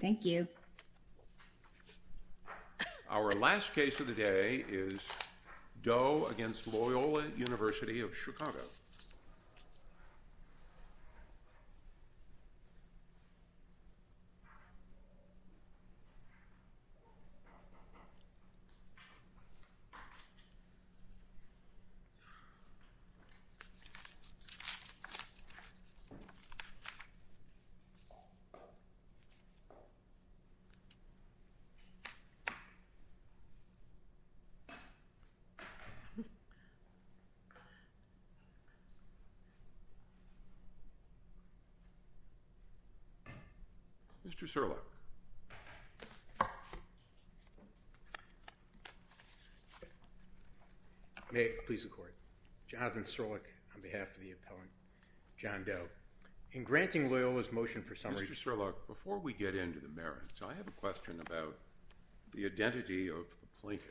Thank you. Our last case of the day is Doe v. Loyola University of Chicago. Mr. Serluck. May it please the court. Jonathan Serluck on behalf of the appellant John Doe. In granting Loyola's motion for summary Mr. Serluck, before we get into the merits, I have a question about the identity of the plaintiff.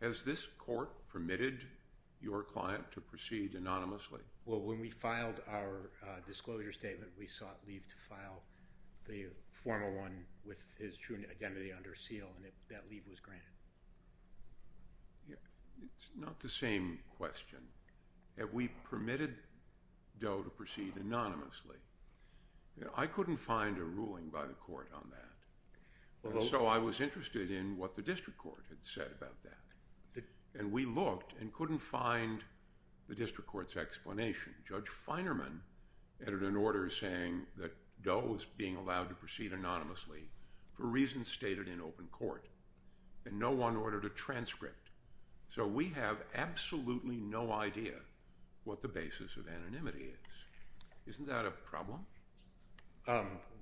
Has this court permitted your client to proceed anonymously? Well, when we filed our disclosure statement, we sought leave to file the formal one with his true identity under seal, and that leave was granted. It's not the same question. Have we permitted Doe to proceed anonymously? I couldn't find a ruling by the court on that. So I was interested in what the district court had said about that. And we looked and couldn't find the district court's explanation. Judge Finerman entered an order saying that Doe was being allowed to proceed anonymously for reasons stated in open court, and no one ordered a transcript. So we have absolutely no idea what the basis of anonymity is. Isn't that a problem?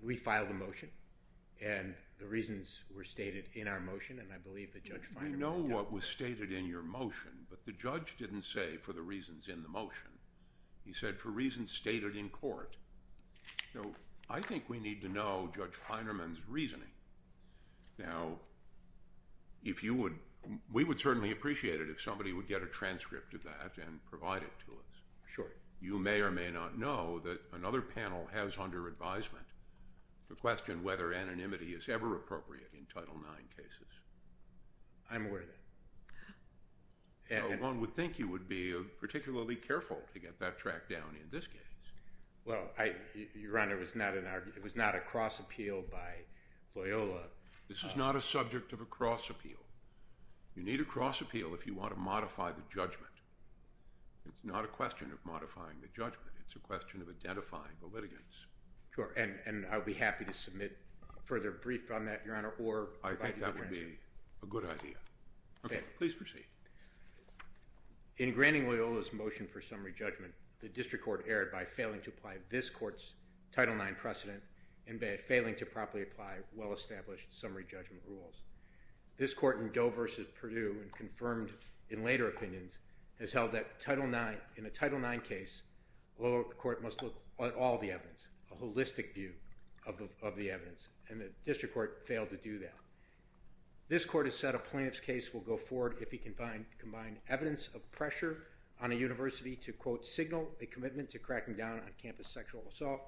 We filed a motion, and the reasons were stated in our motion, and I believe that Judge Finerman did. We know what was stated in your motion, but the judge didn't say for the reasons in the motion. He said for reasons stated in court. So I think we need to know Judge Finerman's reasoning. Now, we would certainly appreciate it if somebody would get a transcript of that and provide it to us. Sure. You may or may not know that another panel has under advisement to question whether anonymity is ever appropriate in Title IX cases. I'm aware of that. One would think you would be particularly careful to get that tracked down in this case. Well, Your Honor, it was not a cross appeal by Loyola. This is not a subject of a cross appeal. You need a cross appeal if you want to modify the judgment. It's not a question of modifying the judgment. It's a question of identifying the litigants. Sure, and I would be happy to submit a further brief on that, Your Honor, or provide you a transcript. I think that would be a good idea. Okay, please proceed. In granting Loyola's motion for summary judgment, the district court erred by failing to apply this court's Title IX precedent and by failing to properly apply well-established summary judgment rules. This court in Doe v. Purdue and confirmed in later opinions has held that in a Title IX case, Loyola court must look at all the evidence, a holistic view of the evidence, and the district court failed to do that. This court has said a plaintiff's case will go forward if he can combine evidence of pressure on a university to, quote, signal a commitment to cracking down on campus sexual assault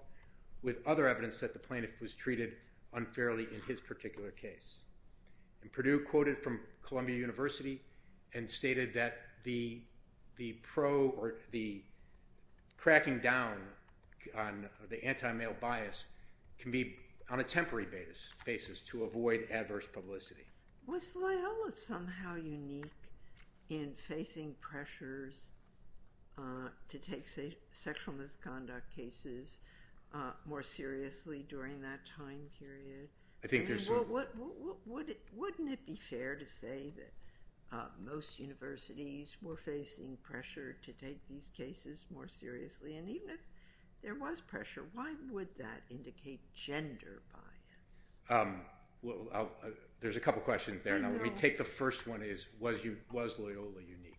with other evidence that the plaintiff was treated unfairly in his particular case. And Purdue quoted from Columbia University and stated that the pro or the cracking down on the anti-male bias can be on a temporary basis to avoid adverse publicity. Was Loyola somehow unique in facing pressures to take sexual misconduct cases more seriously during that time period? Wouldn't it be fair to say that most universities were facing pressure to take these cases more seriously? And even if there was pressure, why would that indicate gender bias? There's a couple questions there. Now, let me take the first one is, was Loyola unique?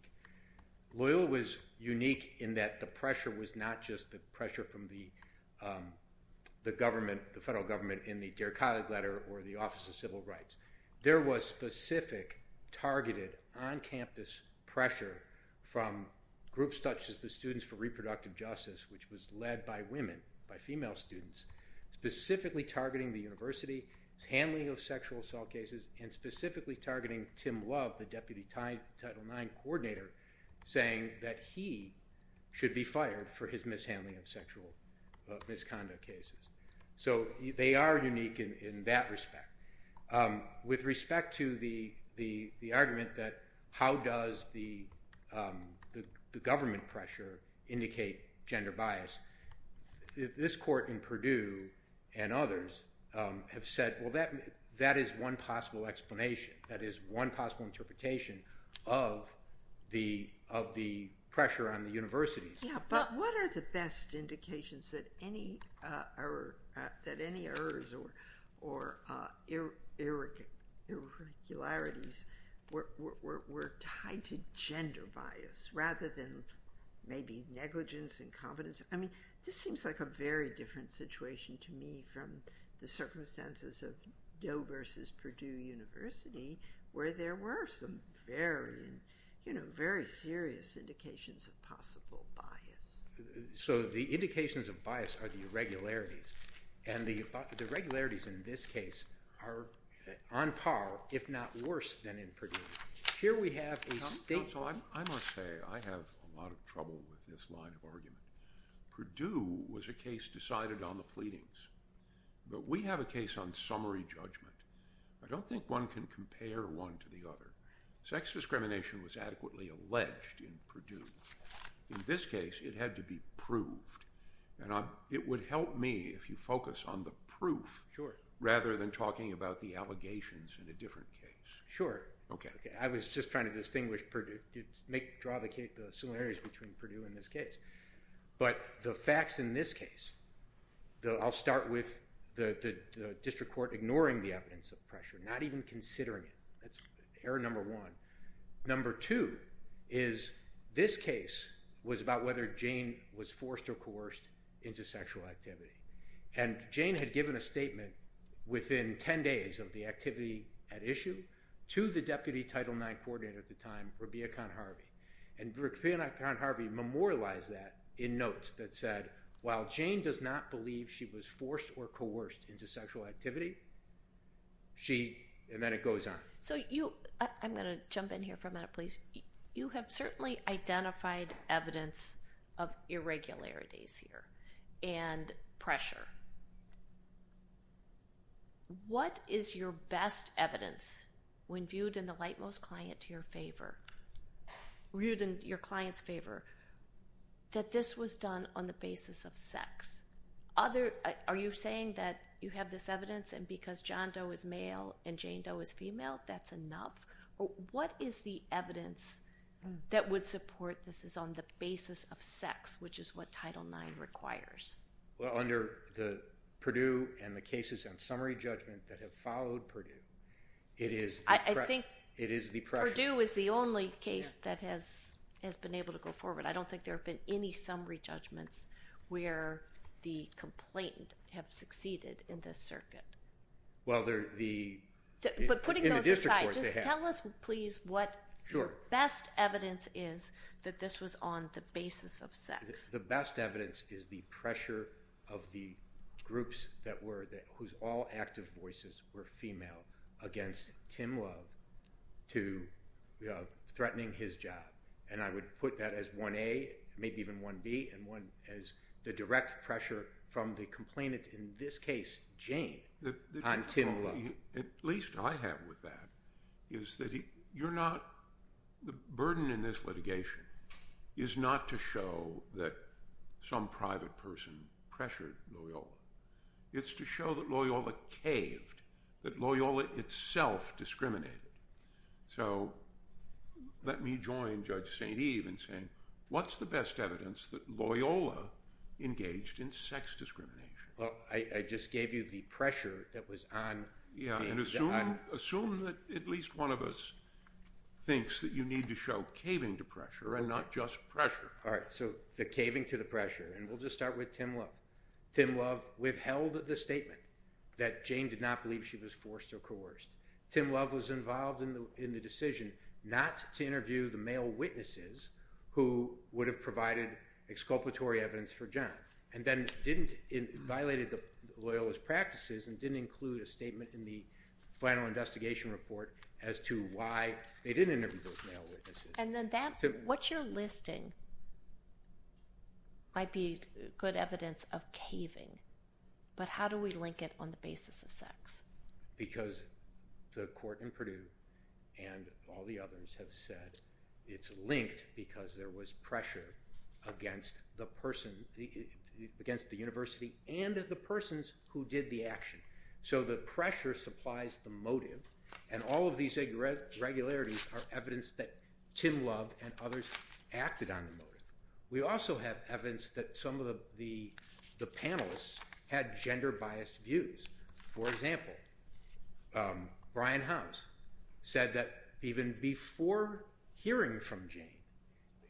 Loyola was unique in that the pressure was not just the pressure from the government, the federal government in the Dear Colleague letter or the Office of Civil Rights. There was specific targeted on-campus pressure from groups such as the Students for Reproductive Justice, which was led by women, by female students, specifically targeting the university's handling of sexual assault cases and specifically targeting Tim Love, the Deputy Title IX Coordinator, saying that he should be fired for his mishandling of sexual misconduct cases. So they are unique in that respect. With respect to the argument that how does the government pressure indicate gender bias, this court in Purdue and others have said, well, that is one possible explanation. That is one possible interpretation of the pressure on the universities. Yeah, but what are the best indications that any errors or irregularities were tied to gender bias rather than maybe negligence, incompetence? I mean, this seems like a very different situation to me from the circumstances of Doe versus Purdue University where there were some very serious indications of possible bias. So the indications of bias are the irregularities, and the irregularities in this case are on par, if not worse, than in Purdue. I must say I have a lot of trouble with this line of argument. Purdue was a case decided on the pleadings, but we have a case on summary judgment. I don't think one can compare one to the other. Sex discrimination was adequately alleged in Purdue. In this case, it had to be proved, and it would help me if you focus on the proof rather than talking about the allegations in a different case. Sure. I was just trying to draw the similarities between Purdue and this case. But the facts in this case, I'll start with the district court ignoring the evidence of pressure, not even considering it. That's error number one. Number two is this case was about whether Jane was forced or coerced into sexual activity. And Jane had given a statement within 10 days of the activity at issue to the Deputy Title IX Coordinator at the time, Rabia Khan-Harvey. And Rabia Khan-Harvey memorialized that in notes that said, while Jane does not believe she was forced or coerced into sexual activity, she... And then it goes on. So you... I'm going to jump in here for a minute, please. You have certainly identified evidence of irregularities here and pressure. What is your best evidence, when viewed in the lightmost client to your favor, viewed in your client's favor, that this was done on the basis of sex? Are you saying that you have this evidence and because John Doe is male and Jane Doe is female, that's enough? What is the evidence that would support this is on the basis of sex, which is what Title IX requires? Well, under the Purdue and the cases on summary judgment that have followed Purdue, it is the pressure. I think Purdue is the only case that has been able to go forward. I don't think there have been any summary judgments where the complainant have succeeded in this circuit. But putting those aside, just tell us, please, what your best evidence is that this was on the basis of sex. The best evidence is the pressure of the groups whose all active voices were female against Tim Love to threatening his job. And I would put that as 1A, maybe even 1B, and 1B as the direct pressure from the complainant, in this case Jane, on Tim Love. At least I have with that is that you're not the burden in this litigation is not to show that some private person pressured Loyola. It's to show that Loyola caved, that Loyola itself discriminated. So let me join Judge St. Eve in saying, what's the best evidence that Loyola engaged in sex discrimination? Well, I just gave you the pressure that was on. Yeah, and assume that at least one of us thinks that you need to show caving to pressure and not just pressure. All right, so the caving to the pressure, and we'll just start with Tim Love. Tim Love withheld the statement that Jane did not believe she was forced or coerced. Tim Love was involved in the decision not to interview the male witnesses who would have provided exculpatory evidence for John and then violated Loyola's practices and didn't include a statement in the final investigation report as to why they didn't interview those male witnesses. And then what you're listing might be good evidence of caving, but how do we link it on the basis of sex? Because the court in Purdue and all the others have said it's linked because there was pressure against the person, against the university and the persons who did the action. So the pressure supplies the motive, and all of these irregularities are evidence that Tim Love and others acted on the motive. We also have evidence that some of the panelists had gender-biased views. For example, Brian House said that even before hearing from Jane,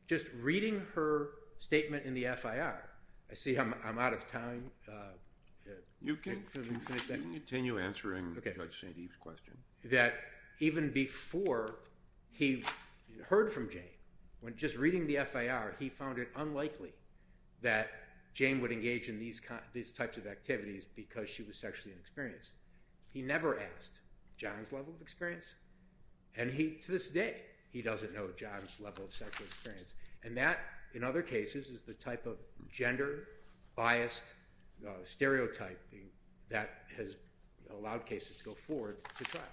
just reading her statement in the FIR, I see I'm out of time. You can continue answering Judge St. Eve's question. That even before he heard from Jane, when just reading the FIR, he found it unlikely that Jane would engage in these types of activities because she was sexually inexperienced. He never asked John's level of experience, and to this day he doesn't know John's level of sexual experience. And that, in other cases, is the type of gender-biased stereotyping that has allowed cases to go forward to trial.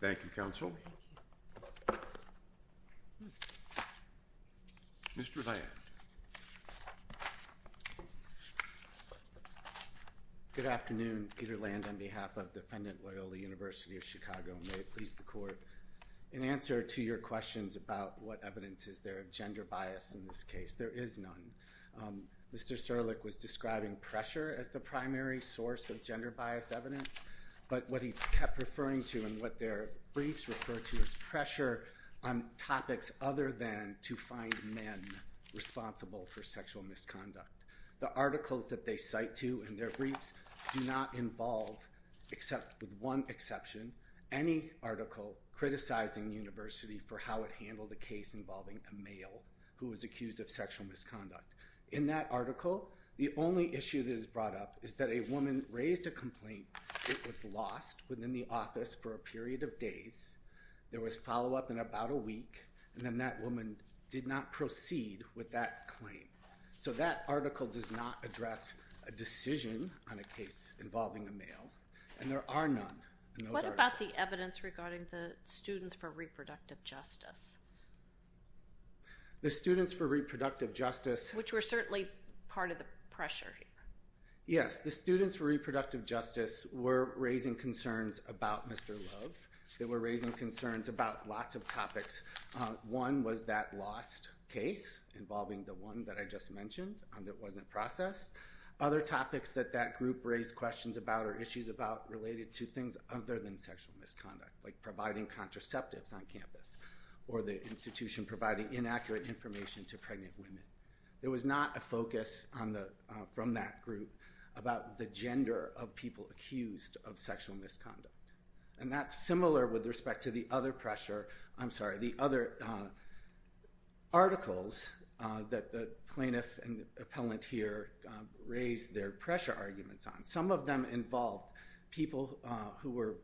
Thank you, counsel. Thank you. Mr. Land. Good afternoon. Peter Land on behalf of the defendant Loyola University of Chicago, and may it please the court. In answer to your questions about what evidence is there of gender bias in this case, there is none. Mr. Serlick was describing pressure as the primary source of gender-biased evidence, but what he kept referring to and what their briefs refer to is pressure on topics other than to find men responsible for sexual misconduct. The articles that they cite to in their briefs do not involve, with one exception, any article criticizing the university for how it handled a case involving a male who was accused of sexual misconduct. In that article, the only issue that is brought up is that a woman raised a complaint that was lost within the office for a period of days. There was follow-up in about a week, and then that woman did not proceed with that claim. So that article does not address a decision on a case involving a male, and there are none in those articles. What about the evidence regarding the students for reproductive justice? The students for reproductive justice. Which were certainly part of the pressure here. Yes, the students for reproductive justice were raising concerns about Mr. Love. They were raising concerns about lots of topics. One was that lost case involving the one that I just mentioned that wasn't processed. Other topics that that group raised questions about or issues about related to things other than sexual misconduct, like providing contraceptives on campus or the institution providing inaccurate information to pregnant women. There was not a focus from that group about the gender of people accused of sexual misconduct. And that's similar with respect to the other pressure, I'm sorry, the other articles that the plaintiff and the appellant here raised their pressure arguments on. Some of them involved people who were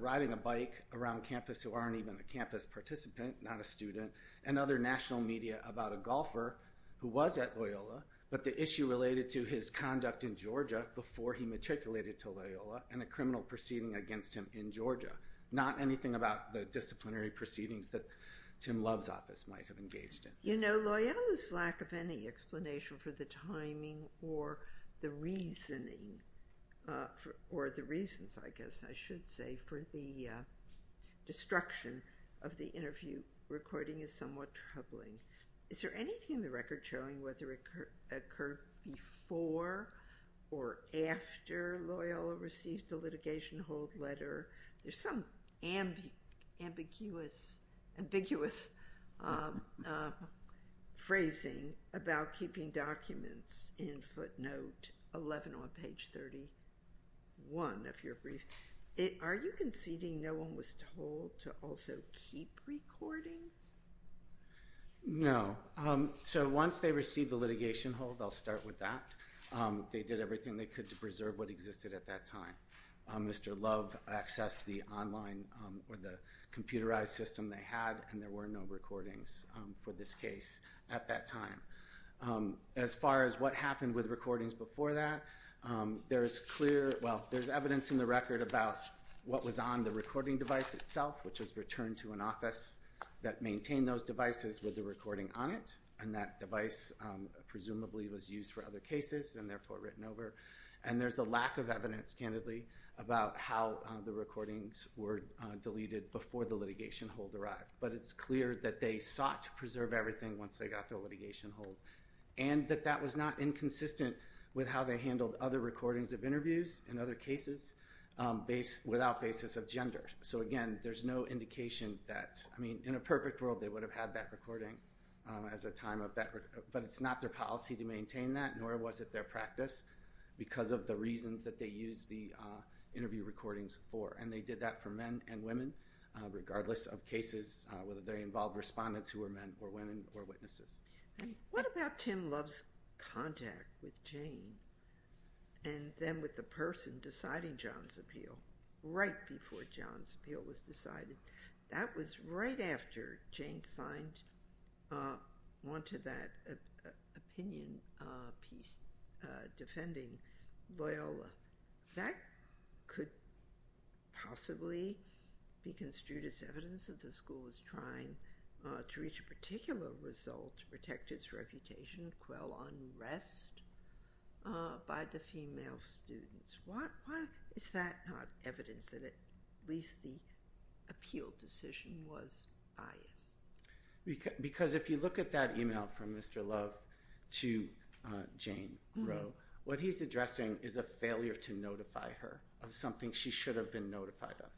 riding a bike around campus who aren't even a campus participant, not a student, and other national media about a golfer who was at Loyola, but the issue related to his conduct in Georgia before he matriculated to Loyola and a criminal proceeding against him in Georgia. Not anything about the disciplinary proceedings that Tim Love's office might have engaged in. You know, Loyola's lack of any explanation for the timing or the reasoning, or the reasons, I guess I should say, for the destruction of the interview recording is somewhat troubling. Is there anything in the record showing whether it occurred before or after Loyola received the litigation hold letter? There's some ambiguous phrasing about keeping documents in footnote 11 on page 31 of your brief. Are you conceding no one was told to also keep recordings? No. So once they received the litigation hold, I'll start with that. They did everything they could to preserve what existed at that time. Mr. Love accessed the online or the computerized system they had, and there were no recordings for this case at that time. As far as what happened with recordings before that, there's evidence in the record about what was on the recording device itself, which was returned to an office that maintained those devices with the recording on it, and that device presumably was used for other cases and therefore written over. And there's a lack of evidence, candidly, about how the recordings were deleted before the litigation hold arrived, but it's clear that they sought to preserve everything once they got the litigation hold and that that was not inconsistent with how they handled other recordings of interviews and other cases without basis of gender. So, again, there's no indication that, I mean, in a perfect world, they would have had that recording as a time of that, but it's not their policy to maintain that, nor was it their practice, because of the reasons that they used the interview recordings for. And they did that for men and women, regardless of cases, whether they involved respondents who were men or women or witnesses. What about Tim Love's contact with Jane and then with the person deciding John's appeal right before John's appeal was decided? That was right after Jane wanted that opinion piece defending Loyola. That could possibly be construed as evidence that the school was trying to reach a particular result to protect its reputation and quell unrest by the female students. Why is that not evidence that at least the appeal decision was biased? Because if you look at that email from Mr. Love to Jane Rowe, what he's addressing is a failure to notify her of something she should have been notified of,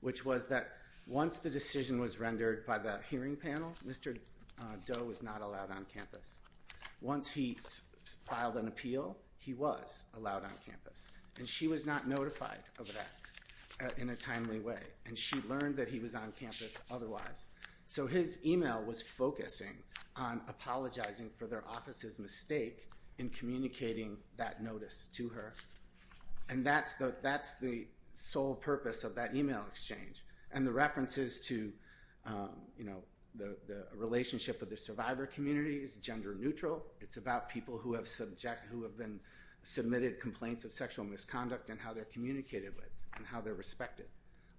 which was that once the decision was rendered by the hearing panel, Mr. Doe was not allowed on campus. Once he filed an appeal, he was allowed on campus, and she was not notified of that in a timely way, and she learned that he was on campus otherwise. So his email was focusing on apologizing for their office's mistake in communicating that notice to her, and that's the sole purpose of that email exchange. And the references to the relationship of the survivor community is gender neutral. It's about people who have been submitted complaints of sexual misconduct and how they're communicated with and how they're respected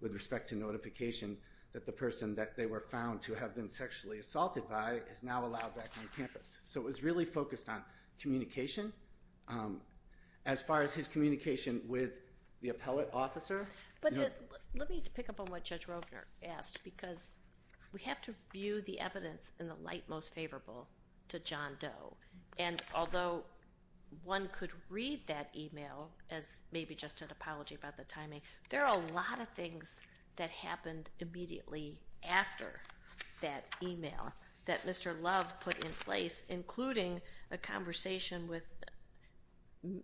with respect to notification that the person that they were found to have been sexually assaulted by is now allowed back on campus. So it was really focused on communication. As far as his communication with the appellate officer. But let me pick up on what Judge Rogner asked, because we have to view the evidence in the light most favorable to John Doe. And although one could read that email as maybe just an apology about the timing, there are a lot of things that happened immediately after that email that Mr. Love put in place, including a conversation with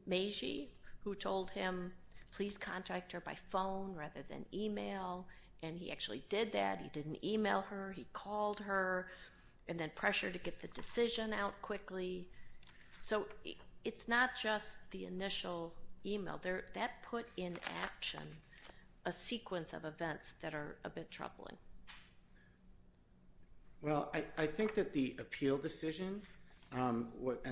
Meiji who told him please contact her by phone rather than email, and he actually did that. He didn't email her. He called her and then pressured to get the decision out quickly. So it's not just the initial email. That put in action a sequence of events that are a bit troubling. Well, I think that the appeal decision and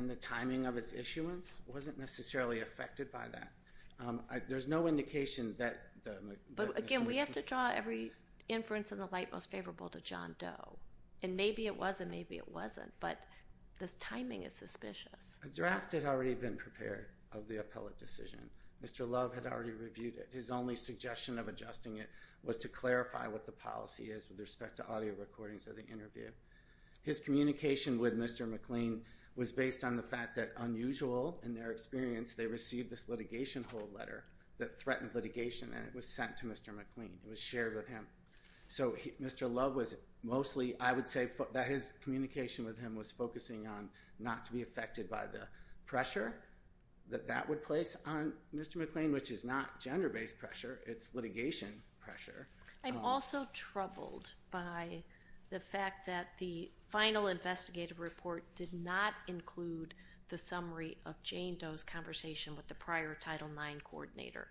the timing of its issuance wasn't necessarily affected by that. There's no indication that Mr. Love... But, again, we have to draw every inference in the light most favorable to John Doe. And maybe it was and maybe it wasn't, but this timing is suspicious. A draft had already been prepared of the appellate decision. Mr. Love had already reviewed it. His only suggestion of adjusting it was to clarify what the policy is with respect to audio recordings of the interview. His communication with Mr. McLean was based on the fact that, unusual in their experience, they received this litigation hold letter that threatened litigation, and it was sent to Mr. McLean. It was shared with him. So Mr. Love was mostly, I would say, that his communication with him was focusing on not to be affected by the pressure that that would place on Mr. McLean, which is not gender-based pressure. It's litigation pressure. I'm also troubled by the fact that the final investigative report did not include the summary of Jane Doe's conversation with the prior Title IX coordinator,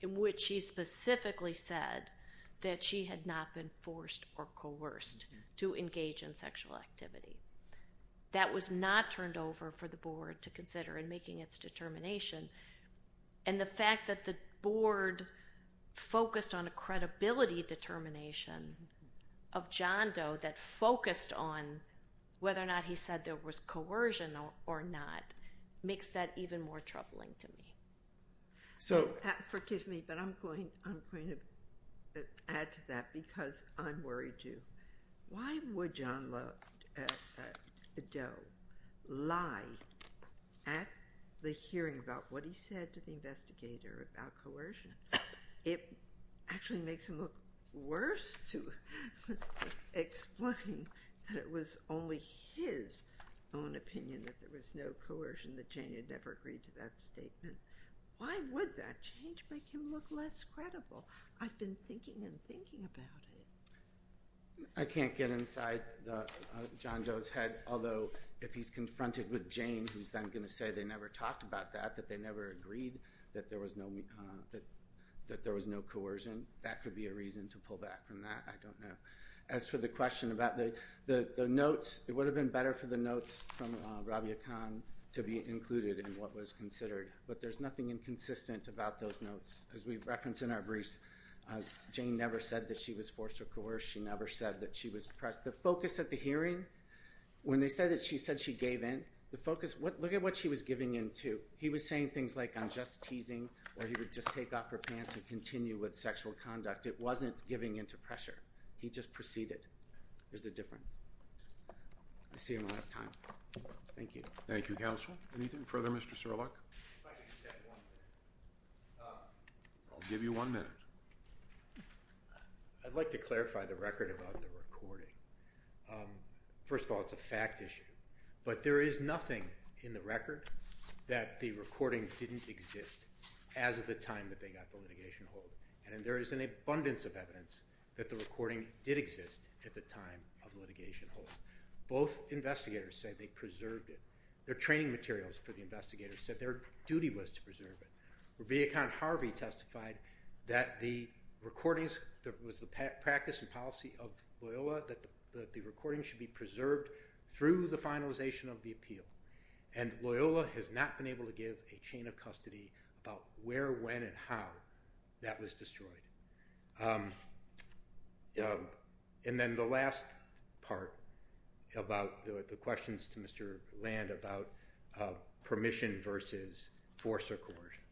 in which she specifically said that she had not been forced or coerced to engage in sexual activity. That was not turned over for the Board to consider in making its determination, and the fact that the Board focused on a credibility determination of John Doe that focused on whether or not he said there was coercion or not makes that even more troubling to me. Forgive me, but I'm going to add to that because I'm worried too. Why would John Doe lie at the hearing about what he said to the investigator about coercion? It actually makes him look worse to explain that it was only his own opinion that there was no coercion, that Jane had never agreed to that statement. Why would that change make him look less credible? I've been thinking and thinking about it. I can't get inside John Doe's head, although if he's confronted with Jane, who's then going to say they never talked about that, that they never agreed, that there was no coercion, that could be a reason to pull back from that. I don't know. As for the question about the notes, it would have been better for the notes from Rabia Khan to be included in what was considered, but there's nothing inconsistent about those notes. As we've referenced in our briefs, Jane never said that she was forced to coerce. She never said that she was pressured. The focus at the hearing, when they said that she said she gave in, the focus, look at what she was giving in to. He was saying things like, I'm just teasing, or he would just take off her pants and continue with sexual conduct. It wasn't giving in to pressure. He just proceeded. There's a difference. I see I'm out of time. Thank you. Thank you, Counsel. Anything further, Mr. Serluck? If I could just add one thing. I'll give you one minute. I'd like to clarify the record about the recording. First of all, it's a fact issue. But there is nothing in the record that the recording didn't exist as of the time that they got the litigation hold. And there is an abundance of evidence that the recording did exist at the time of litigation hold. Both investigators said they preserved it. Their training materials for the investigators said their duty was to preserve it. Rebecca Harvey testified that the recordings, that it was the practice and policy of Loyola that the recording should be preserved through the finalization of the appeal. And Loyola has not been able to give a chain of custody about where, when, and how that was destroyed. And then the last part about the questions to Mr. Land about permission versus force or coercion.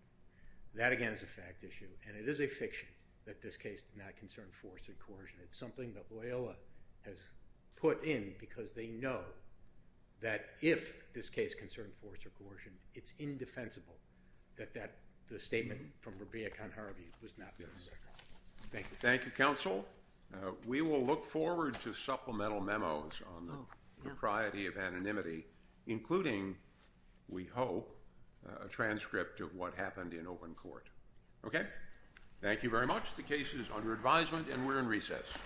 That, again, is a fact issue. And it is a fiction that this case did not concern force or coercion. It's something that Loyola has put in because they know that if this case concerned force or coercion, it's indefensible that the statement from Rebecca Harvey was not this. Thank you. Thank you, Counsel. We will look forward to supplemental memos on the propriety of anonymity, including, we hope, a transcript of what happened in open court. Okay? Thank you very much. The case is under advisement and we're in recess.